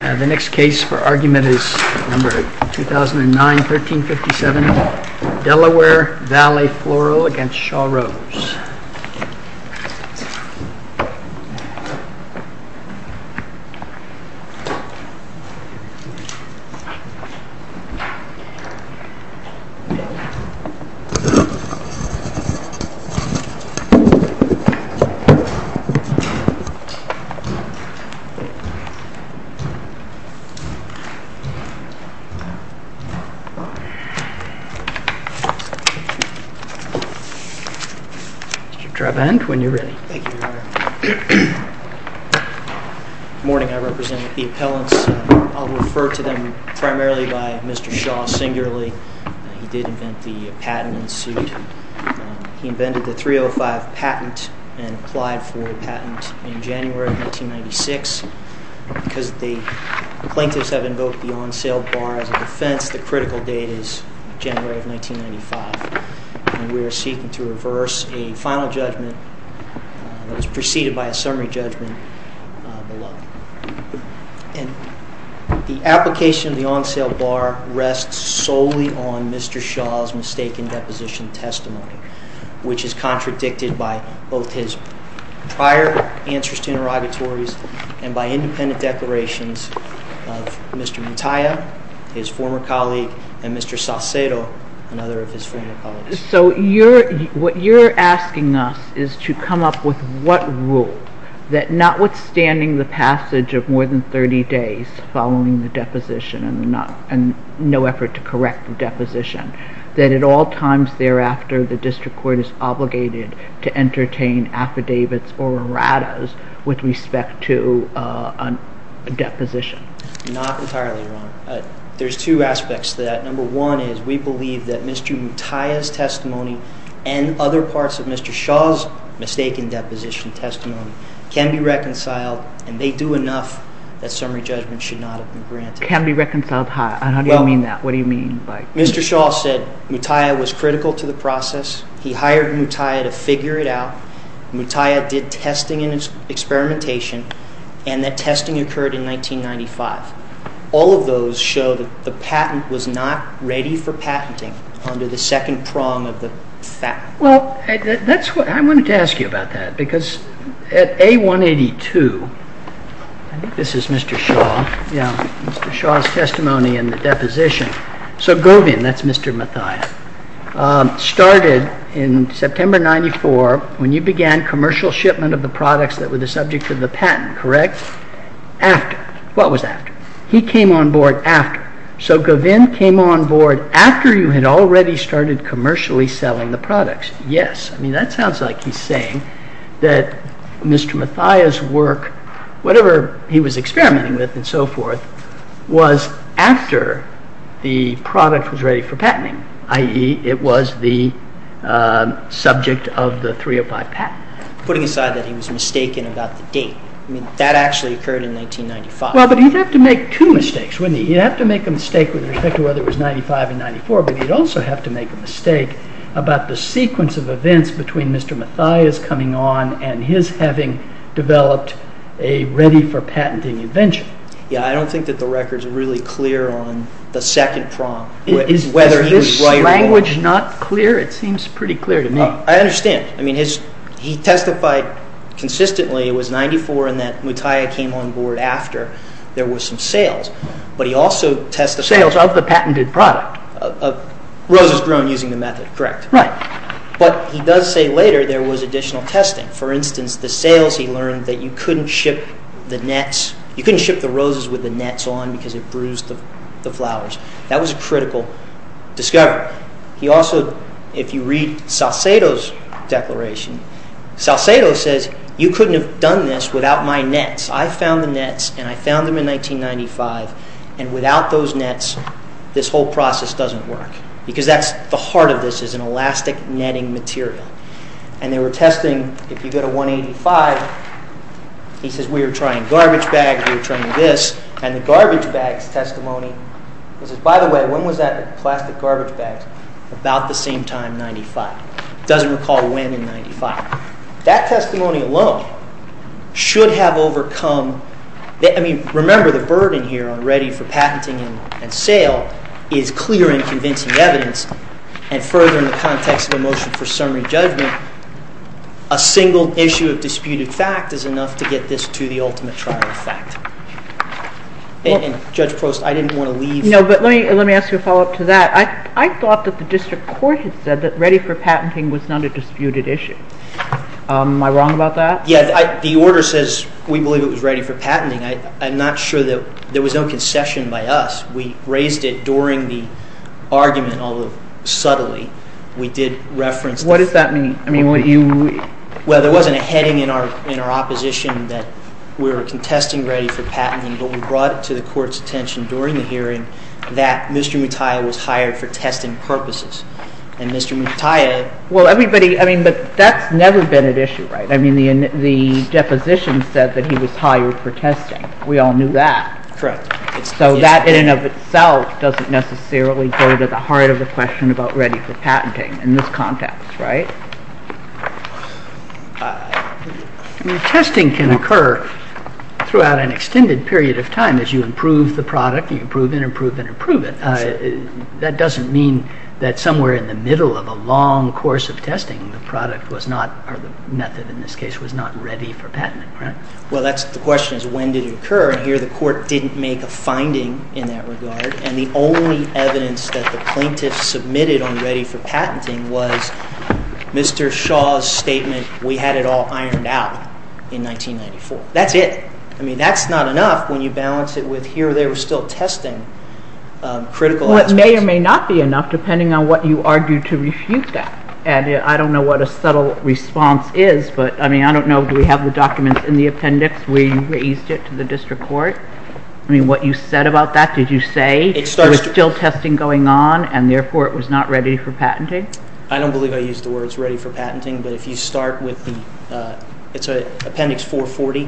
The next case for argument is number 2009 1357, Delaware Valley Floral v. Shaw Rose. Good morning, I represent the appellants. I'll refer to them primarily by Mr. Shaw singularly. He did invent the patent and sued. He invented the 305 patent and applied for a patent in January of 1996. Because the plaintiffs have invoked the on sale bar as a defense, the critical date is January of 1995. We are seeking to reverse a final judgment that was preceded by a summary judgment. The application of the on sale bar rests solely on Mr. Shaw's mistaken deposition testimony, which is contradicted by both his prior answers to interrogatories and by independent declarations of Mr. Mutiah, his former colleague, and Mr. Saucedo, another of his former colleagues. So what you're asking us is to come up with what rule that notwithstanding the passage of more than 30 days following the deposition and no effort to correct the deposition, that at all times thereafter the district court is obligated to entertain affidavits or erratas with respect to a deposition? Not entirely, Your Honor. There's two aspects to that. Number one is we believe that Mr. Mutiah's testimony and other parts of Mr. Shaw's mistaken deposition testimony can be reconciled and they do enough that summary judgment should not have been granted. Can be reconciled how? What do you mean by that? Mr. Shaw said Mutiah was critical to the process. He hired Mutiah to figure it out. Mutiah did testing and experimentation and that testing occurred in 1995. All of those show that the patent was not ready for patenting under the second prong of the fact. Well, I wanted to ask you about that because at A182, this is Mr. Shaw, Mr. Shaw's testimony in the deposition. So Govind, that's Mr. Mutiah, started in September 1994 when you began commercial shipment of the products that were the subject of the patent, correct? After. What was after? He came on board after. So Govind came on board after you had already started commercially selling the products. Yes. I mean, that sounds like he's saying that Mr. Mutiah's work, whatever he was experimenting with and so forth, was after the product was ready for patenting, i.e. it was the subject of the 305 patent. Putting aside that he was mistaken about the date, I mean, that actually occurred in 1995. Well, but he'd have to make two mistakes, wouldn't he? He'd have to make a mistake with respect to whether it was 1995 or 1994, but he'd also have to make a mistake about the sequence of events between Mr. Mutiah's coming on and his having developed a ready-for-patenting invention. Yeah, I don't think that the record's really clear on the second prong, whether he was right or wrong. Is this language not clear? It seems pretty clear to me. I understand. I mean, he testified consistently it was 1994 and that Mutiah came on board after there were some sales, but he also testified… Sales of the patented product. Of roses grown using the method, correct. Right. But he does say later there was additional testing. For instance, the sales he learned that you couldn't ship the roses with the nets on because it bruised the flowers. That was a critical discovery. He also, if you read Salcedo's declaration, Salcedo says, you couldn't have done this without my nets. I found the nets and I found them in 1995, and without those nets, this whole process doesn't work because that's the heart of this is an elastic netting material. And they were testing, if you go to 185, he says, we were trying garbage bags, we were trying this. And the garbage bags testimony, he says, by the way, when was that, the plastic garbage bags? About the same time, 95. He doesn't recall when in 95. That testimony alone should have overcome… I mean, remember the burden here on ready-for-patenting and sale is clear and convincing evidence. And further, in the context of a motion for summary judgment, a single issue of disputed fact is enough to get this to the ultimate trial effect. Judge Prost, I didn't want to leave… No, but let me ask you a follow-up to that. I thought that the district court had said that ready-for-patenting was not a disputed issue. Am I wrong about that? Yeah, the order says we believe it was ready-for-patenting. I'm not sure that there was no concession by us. We raised it during the argument, although subtly, we did reference… What does that mean? I mean, what you… Well, there wasn't a heading in our opposition that we were contesting ready-for-patenting, but we brought it to the court's attention during the hearing that Mr. Mutiah was hired for testing purposes. And Mr. Mutiah… Well, everybody… I mean, but that's never been an issue, right? I mean, the deposition said that he was hired for testing. We all knew that. Correct. So that, in and of itself, doesn't necessarily go to the heart of the question about ready-for-patenting in this context, right? I mean, testing can occur throughout an extended period of time as you improve the product, and you improve, and improve, and improve it. That doesn't mean that somewhere in the middle of a long course of testing, the product was not, or the method in this case, was not ready for patenting, right? Well, that's the question, is when did it occur? And here, the court didn't make a finding in that regard, and the only evidence that the plaintiffs submitted on ready-for-patenting was Mr. Shaw's statement, we had it all ironed out in 1994. That's it. I mean, that's not enough when you balance it with here or there, we're still testing critical aspects. Well, it may or may not be enough, depending on what you argue to refute that. And I don't know what a subtle response is, but, I mean, I don't know, do we have the documents in the appendix where you raised it to the district court? I mean, what you said about that, did you say there was still testing going on, and therefore it was not ready for patenting? I don't believe I used the words ready for patenting, but if you start with the, it's appendix 440,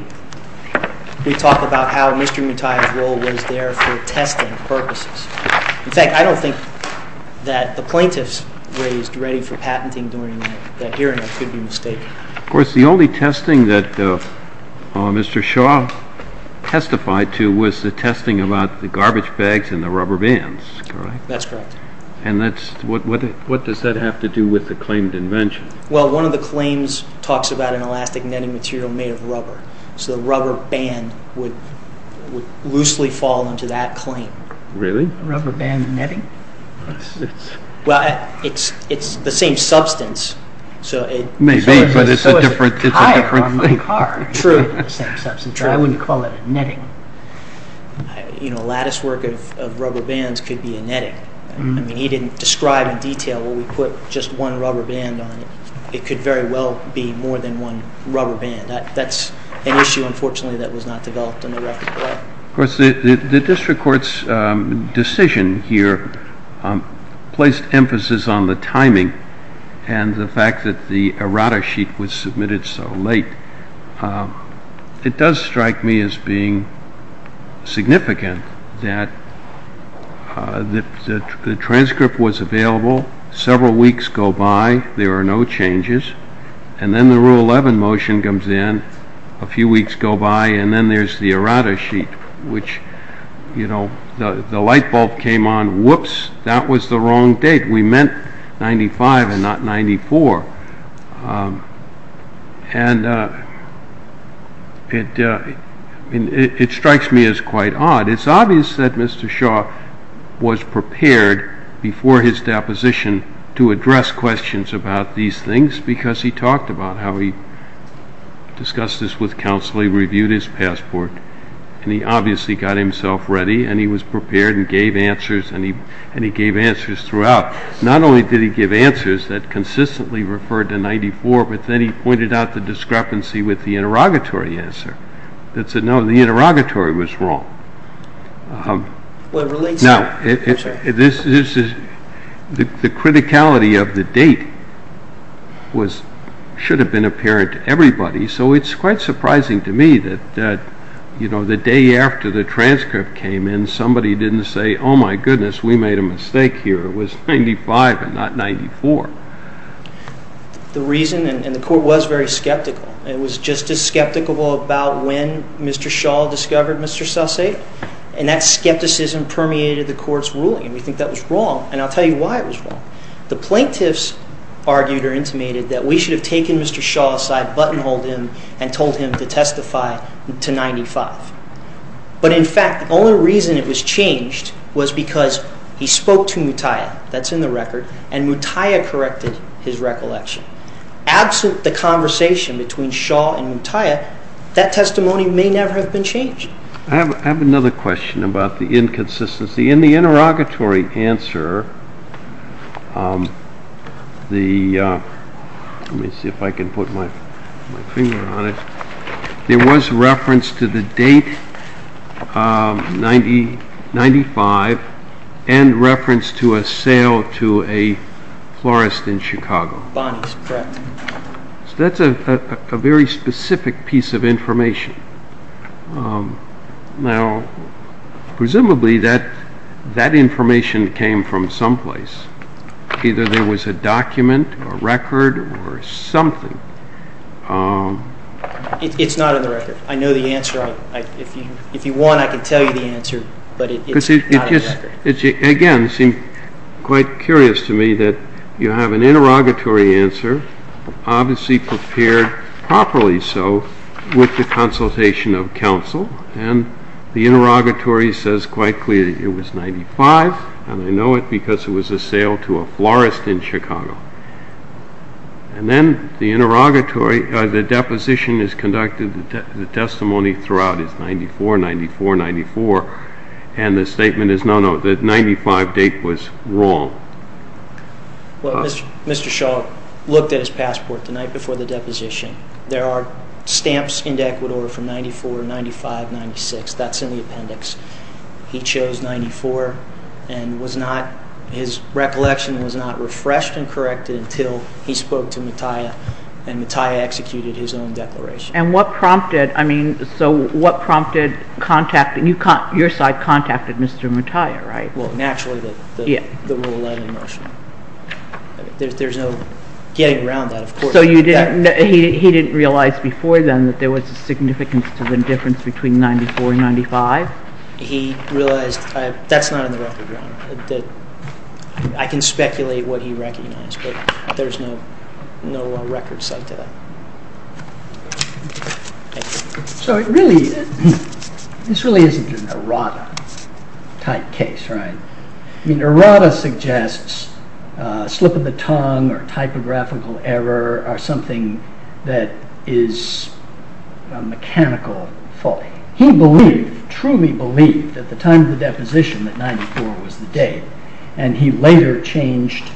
we talk about how Mr. Mutai's role was there for testing purposes. In fact, I don't think that the plaintiffs raised ready for patenting during that hearing could be mistaken. Of course, the only testing that Mr. Shaw testified to was the testing about the garbage bags and the rubber bands, correct? That's correct. And what does that have to do with the claimed invention? Well, one of the claims talks about an elastic netting material made of rubber, so the rubber band would loosely fall into that claim. Really? Rubber band netting? Well, it's the same substance. Maybe, but it's a different thing. True. I wouldn't call it a netting. You know, a latticework of rubber bands could be a netting. I mean, he didn't describe in detail where we put just one rubber band on it. It could very well be more than one rubber band. That's an issue, unfortunately, that was not developed in the record. Of course, the district court's decision here placed emphasis on the timing and the fact that the errata sheet was submitted so late. It does strike me as being significant that the transcript was available, several weeks go by, there are no changes, and then the Rule 11 motion comes in, a few weeks go by, and then there's the errata sheet, which, you know, the light bulb came on, whoops, that was the wrong date. We meant 95 and not 94, and it strikes me as quite odd. It's obvious that Mr. Shaw was prepared before his deposition to address questions about these things because he talked about how he discussed this with counsel, he reviewed his passport, and he obviously got himself ready, and he was prepared and gave answers, and he gave answers throughout. Not only did he give answers that consistently referred to 94, but then he pointed out the discrepancy with the interrogatory answer that said, no, the interrogatory was wrong. Now, the criticality of the date should have been apparent to everybody, so it's quite surprising to me that, you know, the day after the transcript came in, somebody didn't say, oh my goodness, we made a mistake here, it was 95 and not 94. The reason, and the court was very skeptical, it was just as skeptical about when Mr. Shaw discovered Mr. Saucedo, and that skepticism permeated the court's ruling, and we think that was wrong, and I'll tell you why it was wrong. The plaintiffs argued or intimated that we should have taken Mr. Shaw aside, buttonholed him, and told him to testify to 95. But in fact, the only reason it was changed was because he spoke to Mutiah, that's in the record, and Mutiah corrected his recollection. Absent the conversation between Shaw and Mutiah, that testimony may never have been changed. I have another question about the inconsistency. In the interrogatory answer, let me see if I can put my finger on it, there was reference to the date, 95, and reference to a sale to a florist in Chicago. That's a very specific piece of information. Now, presumably that information came from someplace. Either there was a document, a record, or something. It's not in the record. I know the answer. If you want, I can tell you the answer, but it's not in the record. Again, it seemed quite curious to me that you have an interrogatory answer, obviously prepared properly so, with the consultation of counsel, and the interrogatory says quite clearly it was 95, and I know it because it was a sale to a florist in Chicago. And then, the interrogatory, the deposition is conducted, the testimony throughout is 94, 94, 94, and the statement is no, no, the 95 date was wrong. Well, Mr. Shaw looked at his passport the night before the deposition. There are stamps in Ecuador from 94, 95, 96, that's in the appendix. He chose 94, and was not, his recollection was not refreshed and corrected until he spoke to Mattia, and Mattia executed his own declaration. And what prompted, I mean, so what prompted contacting, your side contacted Mr. Mattia, right? Well, naturally, the rule 11 motion. There's no getting around that, of course. So you didn't, he didn't realize before then that there was a significance to the difference between 94 and 95? He realized, that's not in the record, Ron. I can speculate what he recognized, but there's no record site to that. So it really, this really isn't an errata type case, right? I mean, errata suggests a slip of the tongue or typographical error or something that is a mechanical fault. He believed, truly believed at the time of the deposition that 94 was the date, and he later changed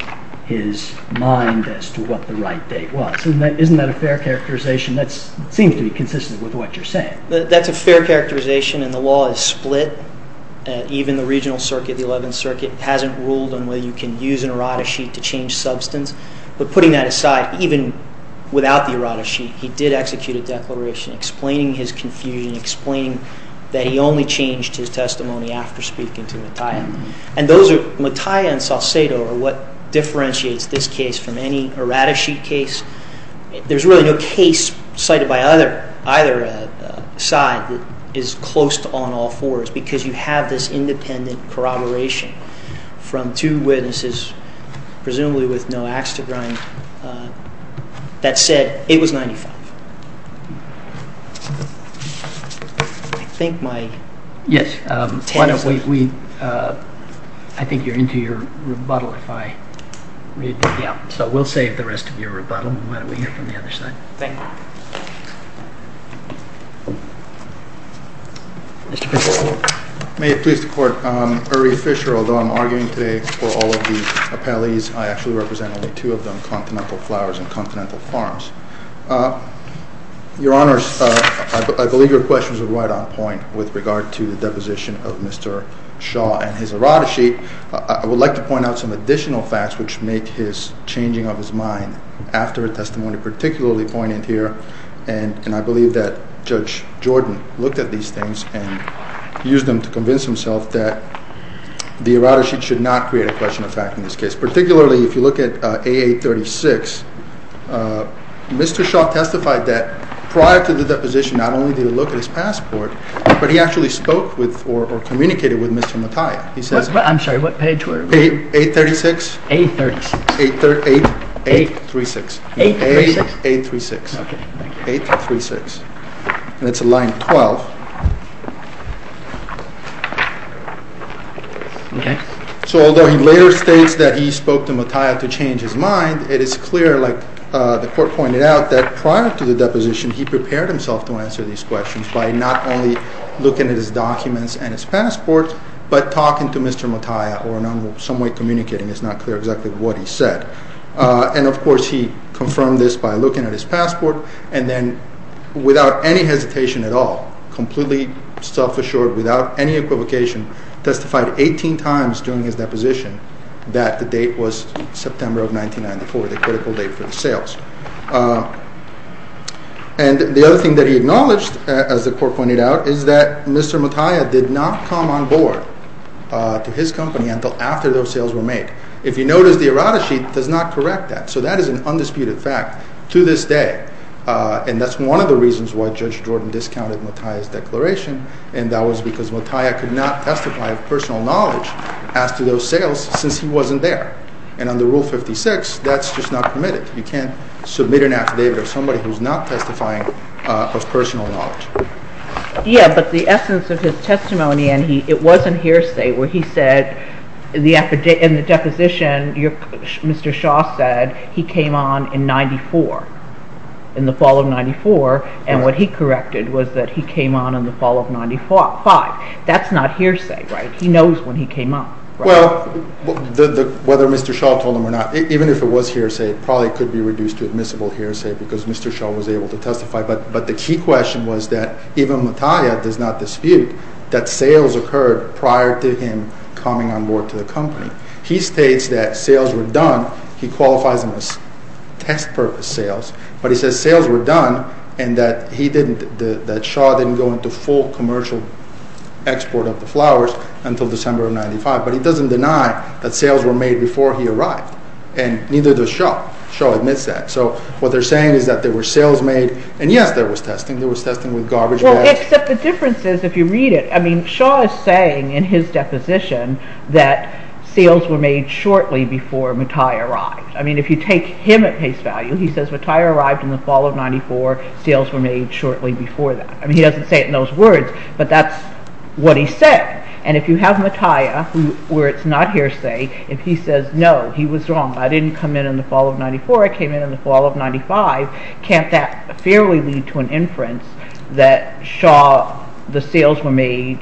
his mind as to what the right date was. Isn't that a fair characterization? That seems to be consistent with what you're saying. That's a fair characterization, and the law is split. Even the regional circuit, the 11th circuit, hasn't ruled on whether you can use an errata sheet to change substance. But putting that aside, even without the errata sheet, he did execute a declaration explaining his confusion, explaining that he only changed his testimony after speaking to Mattia. And Mattia and Salcedo are what differentiates this case from any errata sheet case. There's really no case cited by either side that is close to all in all fours, because you have this independent corroboration from two witnesses, presumably with no axe to grind, that said it was 95. I think you're into your rebuttal if I read that out. So we'll save the rest of your rebuttal, and why don't we hear from the other side. Thank you. May it please the Court, Uri Fisher, although I'm arguing today for all of the appellees, I actually represent only two of them, Continental Flowers and Continental Farms. Your Honors, I believe your questions are right on point with regard to the deposition of Mr. Shaw and his errata sheet. I would like to point out some additional facts which make his changing of his mind after a testimony particularly poignant here. And I believe that Judge Jordan looked at these things and used them to convince himself that the errata sheet should not create a question of fact in this case. Particularly if you look at AA36, Mr. Shaw testified that prior to the deposition not only did he look at his passport, but he actually spoke with or communicated with Mr. Mattia. I'm sorry, what page were we? 836. 836. 836. 836. Okay, thank you. 836. And it's line 12. Okay. So although he later states that he spoke to Mattia to change his mind, it is clear, like the Court pointed out, that prior to the deposition he prepared himself to answer these questions by not only looking at his documents and his passport, but talking to Mr. Mattia or in some way communicating. It's not clear exactly what he said. And of course he confirmed this by looking at his passport and then without any hesitation at all, completely self-assured, without any equivocation, testified 18 times during his deposition that the date was September of 1994, the critical date for the sales. And the other thing that he acknowledged, as the Court pointed out, is that Mr. Mattia did not come on board to his company until after those sales were made. If you notice, the errata sheet does not correct that, so that is an undisputed fact to this day. And that's one of the reasons why Judge Jordan discounted Mattia's declaration, and that was because Mattia could not testify of personal knowledge as to those sales since he wasn't there. And under Rule 56, that's just not permitted. You can't submit an affidavit of somebody who's not testifying of personal knowledge. Yeah, but the essence of his testimony, and it wasn't hearsay, where he said in the deposition Mr. Shaw said he came on in 94, in the fall of 94, and what he corrected was that he came on in the fall of 95. That's not hearsay, right? He knows when he came on. Well, whether Mr. Shaw told him or not, even if it was hearsay, it probably could be reduced to admissible hearsay because Mr. Shaw was able to testify. But the key question was that even Mattia does not dispute that sales occurred prior to him coming on board to the company. He states that sales were done. He qualifies them as test-purpose sales. But he says sales were done and that Shaw didn't go into full commercial export of the flowers until December of 95, but he doesn't deny that sales were made before he arrived, and neither does Shaw. Shaw admits that. So what they're saying is that there were sales made, and yes, there was testing. There was testing with garbage bags. Well, except the difference is, if you read it, I mean, Shaw is saying in his deposition that sales were made shortly before Mattia arrived. I mean, if you take him at face value, he says Mattia arrived in the fall of 94. Sales were made shortly before that. I mean, he doesn't say it in those words, but that's what he said. And if you have Mattia, where it's not hearsay, if he says, no, he was wrong. I didn't come in in the fall of 94. I came in in the fall of 95. Can't that fairly lead to an inference that Shaw, the sales were made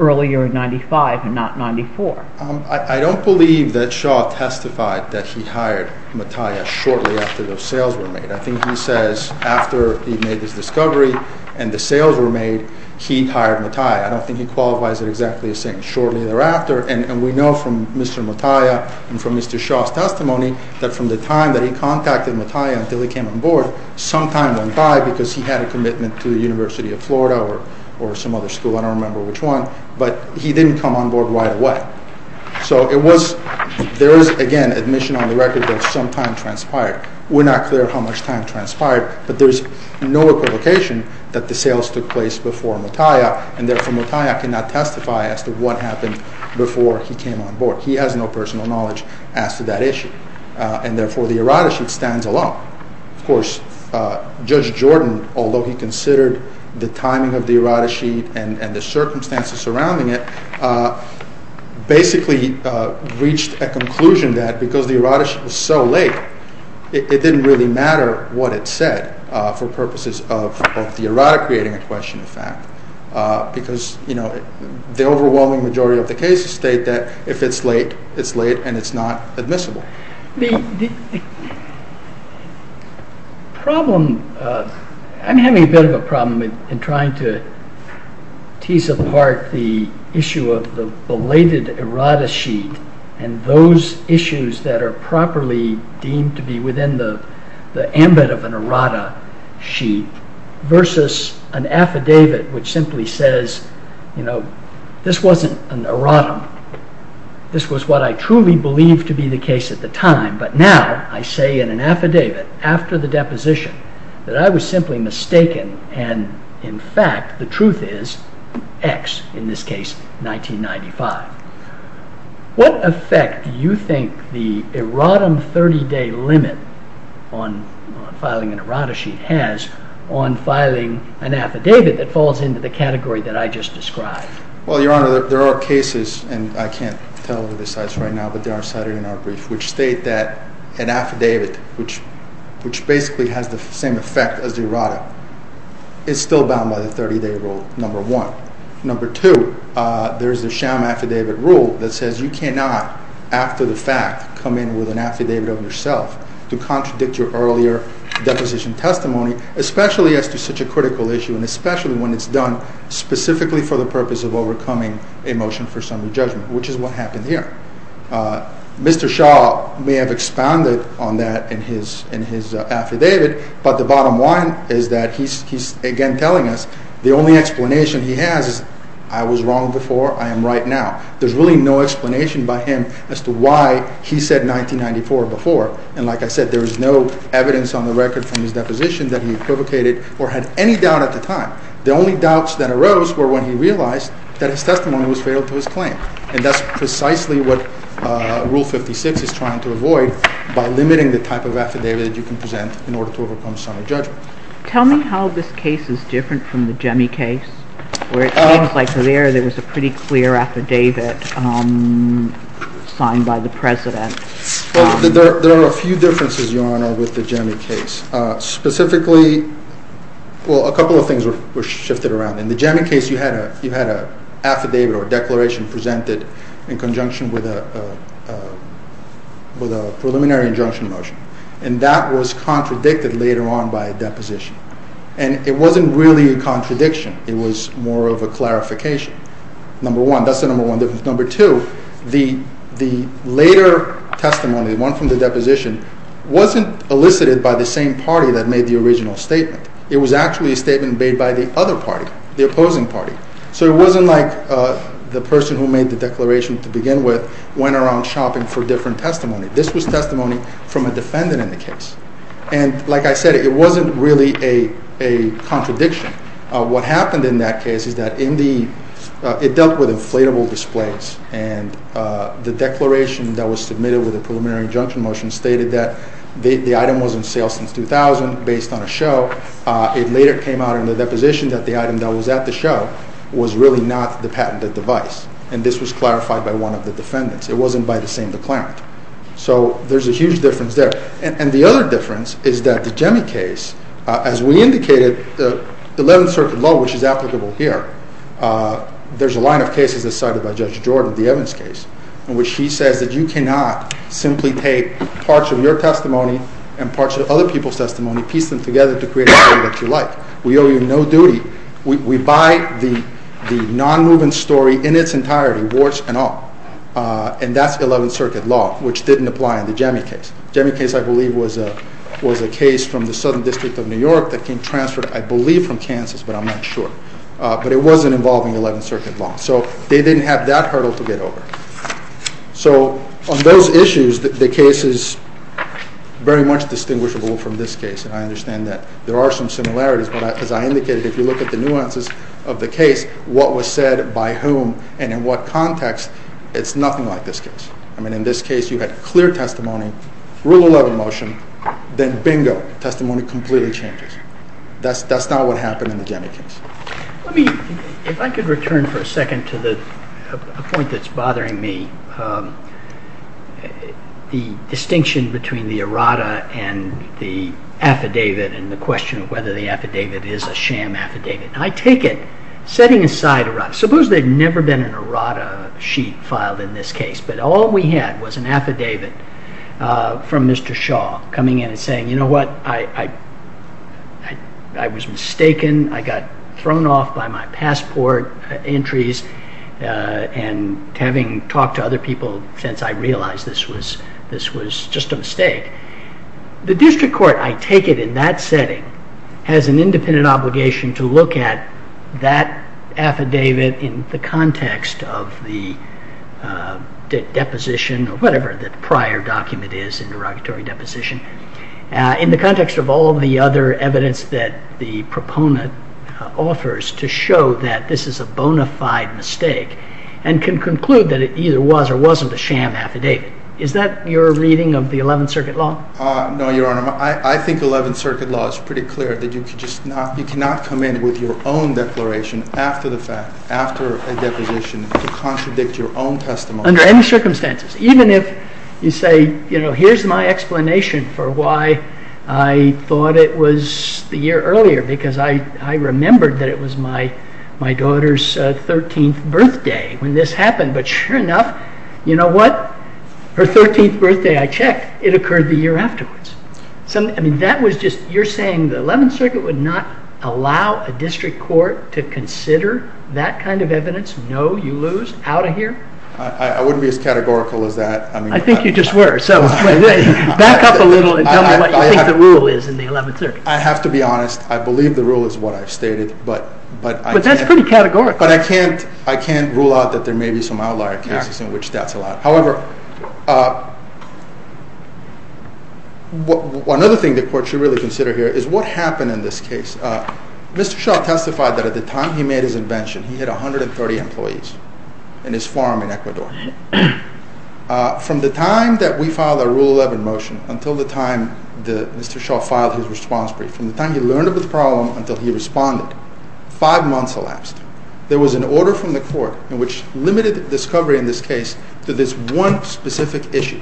earlier in 95 and not 94? I don't believe that Shaw testified that he hired Mattia shortly after those sales were made. I think he says after he made his discovery and the sales were made, he hired Mattia. I don't think he qualifies it exactly as saying shortly thereafter. And we know from Mr. Mattia and from Mr. Shaw's testimony that from the time that he contacted Mattia until he came on board, some time went by because he had a commitment to the University of Florida or some other school. I don't remember which one. But he didn't come on board right away. So there is, again, admission on the record that some time transpired. We're not clear how much time transpired, but there's no equivocation that the sales took place before Mattia, and therefore Mattia cannot testify as to what happened before he came on board. He has no personal knowledge as to that issue, and therefore the errata sheet stands alone. Of course, Judge Jordan, although he considered the timing of the errata sheet and the circumstances surrounding it, basically reached a conclusion that because the errata sheet was so late, it didn't really matter what it said for purposes of the errata creating a question of fact, because the overwhelming majority of the cases state that if it's late, it's late and it's not admissible. I'm having a bit of a problem in trying to tease apart the issue of the belated errata sheet and those issues that are properly deemed to be within the ambit of an errata sheet versus an affidavit which simply says, you know, this wasn't an errata. This was what I truly believed to be the case at the time, but now I say in an affidavit after the deposition that I was simply mistaken, and in fact the truth is X, in this case 1995. What effect do you think the errata 30-day limit on filing an errata sheet has on filing an affidavit that falls into the category that I just described? Well, Your Honor, there are cases, and I can't tell you the size right now, but they are cited in our brief, which state that an affidavit, which basically has the same effect as the errata, is still bound by the 30-day rule, number one. Number two, there's the sham affidavit rule that says you cannot, after the fact, come in with an affidavit of yourself to contradict your earlier deposition testimony, especially as to such a critical issue and especially when it's done specifically for the purpose of overcoming a motion for summary judgment, which is what happened here. Mr. Shah may have expounded on that in his affidavit, but the bottom line is that he's again telling us the only explanation he has is, I was wrong before, I am right now. There's really no explanation by him as to why he said 1994 before, and like I said, there is no evidence on the record from his deposition that he equivocated or had any doubt at the time. The only doubts that arose were when he realized that his testimony was fatal to his claim, and that's precisely what Rule 56 is trying to avoid by limiting the type of affidavit that you can present in order to overcome summary judgment. Tell me how this case is different from the Gemi case, where it seems like there was a pretty clear affidavit signed by the President. There are a few differences, Your Honor, with the Gemi case. Specifically, well, a couple of things were shifted around. In the Gemi case, you had an affidavit or a declaration presented in conjunction with a preliminary injunction motion, and that was contradicted later on by a deposition, and it wasn't really a contradiction. It was more of a clarification, number one. That's the number one difference. Number two, the later testimony, the one from the deposition, wasn't elicited by the same party that made the original statement. It was actually a statement made by the other party, the opposing party. So it wasn't like the person who made the declaration to begin with went around shopping for different testimony. This was testimony from a defendant in the case, and like I said, it wasn't really a contradiction. What happened in that case is that it dealt with inflatable displays, and the declaration that was submitted with a preliminary injunction motion stated that the item was in sale since 2000 based on a show. It later came out in the deposition that the item that was at the show was really not the patented device, and this was clarified by one of the defendants. It wasn't by the same declarant. So there's a huge difference there. And the other difference is that the Gemi case, as we indicated, the Eleventh Circuit Law, which is applicable here, there's a line of cases decided by Judge Jordan, the Evans case, in which she says that you cannot simply take parts of your testimony and parts of other people's testimony, piece them together to create a story that you like. We owe you no duty. We buy the non-moving story in its entirety, warts and all. And that's the Eleventh Circuit Law, which didn't apply in the Gemi case. The Gemi case, I believe, was a case from the Southern District of New York that came transferred, I believe, from Kansas, but I'm not sure. But it wasn't involving Eleventh Circuit Law. So they didn't have that hurdle to get over. So on those issues, the case is very much distinguishable from this case, and I understand that there are some similarities, but as I indicated, if you look at the nuances of the case, what was said by whom and in what context, it's nothing like this case. I mean, in this case, you had clear testimony, Rule 11 motion, then bingo, testimony completely changes. That's not what happened in the Gemi case. Let me, if I could return for a second to the point that's bothering me, the distinction between the errata and the affidavit and the question of whether the affidavit is a sham affidavit. I take it, setting aside errata, suppose there had never been an errata sheet filed in this case, but all we had was an affidavit from Mr. Shaw coming in and saying, you know what, I was mistaken. I got thrown off by my passport entries and having talked to other people since I realized this was just a mistake. The district court, I take it, in that setting, has an independent obligation to look at that affidavit in the context of the deposition or whatever the prior document is in derogatory deposition, in the context of all the other evidence that the proponent offers to show that this is a bona fide mistake and can conclude that it either was or wasn't a sham affidavit. Is that your reading of the Eleventh Circuit Law? No, Your Honor. I think Eleventh Circuit Law is pretty clear that you cannot come in with your own declaration after the fact, after a deposition, to contradict your own testimony. Under any circumstances. Even if you say, you know, here's my explanation for why I thought it was the year earlier because I remembered that it was my daughter's 13th birthday when this happened, but sure enough, you know what, her 13th birthday, I checked, it occurred the year afterwards. I mean, that was just, you're saying the Eleventh Circuit would not allow a district court to consider that kind of evidence? No, you lose? Out of here? I wouldn't be as categorical as that. I think you just were, so back up a little and tell me what you think the rule is in the Eleventh Circuit. I have to be honest, I believe the rule is what I've stated, but I can't rule out that there may be some outlier cases in which that's allowed. However, another thing the court should really consider here is what happened in this case. Mr. Shaw testified that at the time he made his invention, he had 130 employees in his farm in Ecuador. From the time that we filed our Rule 11 motion until the time Mr. Shaw filed his response brief, from the time he learned of the problem until he responded, five months elapsed. There was an order from the court in which limited discovery in this case to this one specific issue,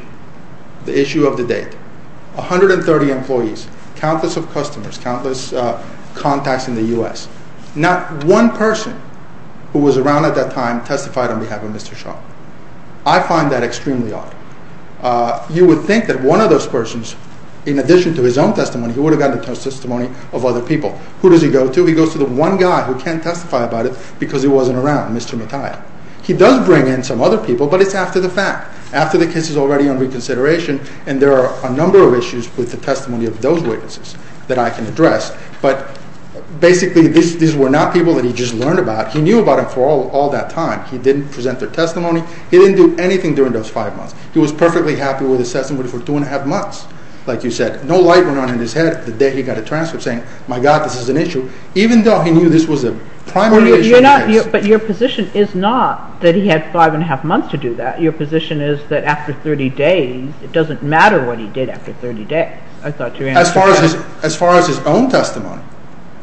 the issue of the date. 130 employees, countless of customers, countless contacts in the U.S. Not one person who was around at that time testified on behalf of Mr. Shaw. I find that extremely odd. You would think that one of those persons, in addition to his own testimony, he would have gotten the testimony of other people. Who does he go to? He goes to the one guy who can't testify about it because he wasn't around, Mr. Mattia. He does bring in some other people, but it's after the fact, after the case is already on reconsideration and there are a number of issues with the testimony of those witnesses that I can address. But basically, these were not people that he just learned about. He knew about them for all that time. He didn't present their testimony. He didn't do anything during those five months. He was perfectly happy with his testimony for two and a half months. Like you said, no light went on in his head the day he got a transcript saying, my God, this is an issue, even though he knew this was a primary issue in the case. But your position is not that he had five and a half months to do that. Your position is that after 30 days, it doesn't matter what he did after 30 days. As far as his own testimony,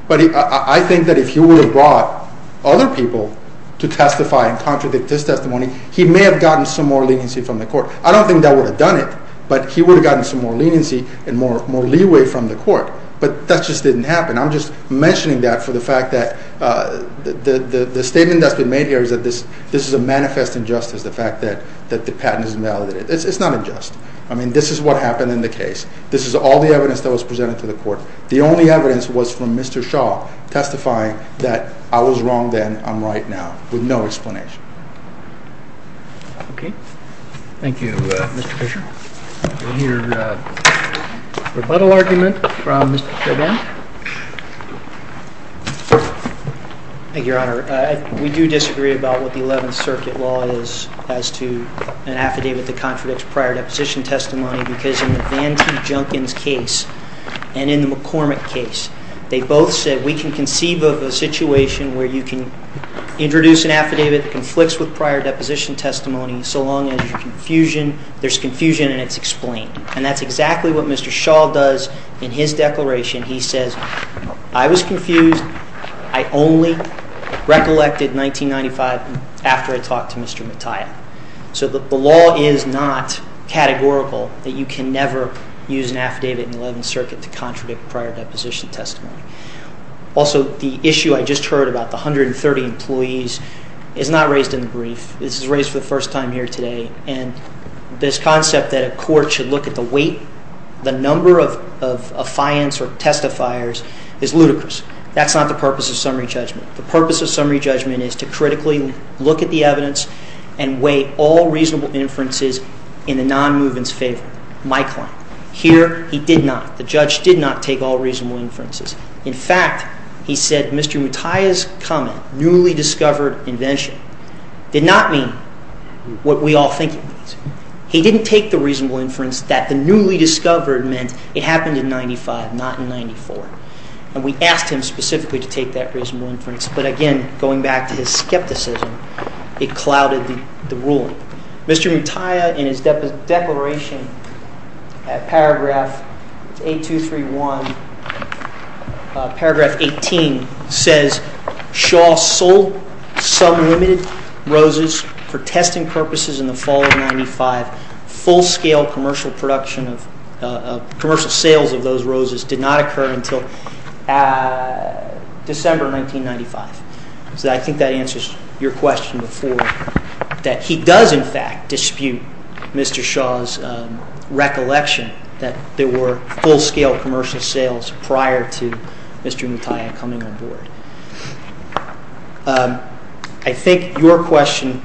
I think that if he would have brought other people to testify and contradict this testimony, he may have gotten some more leniency from the court. I don't think that would have done it, but he would have gotten some more leniency and more leeway from the court. But that just didn't happen. I'm just mentioning that for the fact that the statement that's been made here is that this is a manifest injustice, the fact that the patent is invalidated. It's not unjust. I mean, this is what happened in the case. This is all the evidence that was presented to the court. The only evidence was from Mr. Shaw testifying that I was wrong then, I'm right now, with no explanation. Okay. Thank you, Mr. Fisher. We'll hear a rebuttal argument from Mr. Chabin. Thank you, Your Honor. We do disagree about what the Eleventh Circuit law is as to an affidavit that contradicts prior deposition testimony because in the Van T. Junkins case and in the McCormick case, they both said we can conceive of a situation where you can introduce an affidavit that conflicts with prior deposition testimony so long as there's confusion and it's explained. And that's exactly what Mr. Shaw does in his declaration. He says, I was confused. I only recollected 1995 after I talked to Mr. Mattia. So the law is not categorical that you can never use an affidavit in the Eleventh Circuit to contradict prior deposition testimony. Also, the issue I just heard about, the 130 employees, is not raised in the brief. This is raised for the first time here today and this concept that a court should look at the weight, the number of affiance or testifiers, is ludicrous. That's not the purpose of summary judgment. The purpose of summary judgment is to critically look at the evidence and weigh all reasonable inferences in the non-movement's favor. My claim. Here, he did not. The judge did not take all reasonable inferences. In fact, he said Mr. Mattia's comment, newly discovered invention, did not mean what we all think it means. He didn't take the reasonable inference that the newly discovered meant it happened in 1995, not in 1994. And we asked him specifically to take that reasonable inference. But again, going back to his skepticism, it clouded the ruling. Mr. Mattia, in his declaration, paragraph 8231, paragraph 18, says Shaw sold some limited roses for testing purposes in the fall of 1995. Full-scale commercial sales of those roses did not occur until December 1995. So I think that answers your question before, that he does, in fact, dispute Mr. Shaw's recollection that there were full-scale commercial sales prior to Mr. Mattia coming on board. I think your question,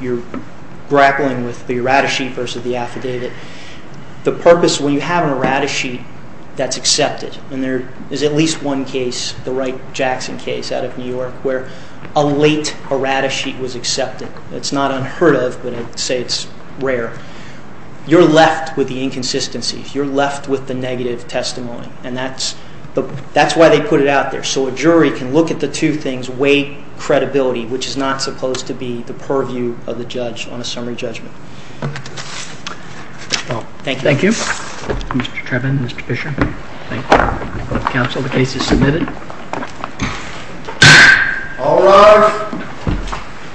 you're grappling with the errata sheet versus the affidavit. The purpose, when you have an errata sheet that's accepted, and there is at least one case, the Wright-Jackson case out of New York, where a late errata sheet was accepted. It's not unheard of, but I'd say it's rare. You're left with the inconsistencies. You're left with the negative testimony. And that's why they put it out there, so a jury can look at the two things, weight, credibility, on a summary judgment. Thank you. Thank you. Mr. Treven, Mr. Fisher, thank you. Council, the case is submitted. All rise.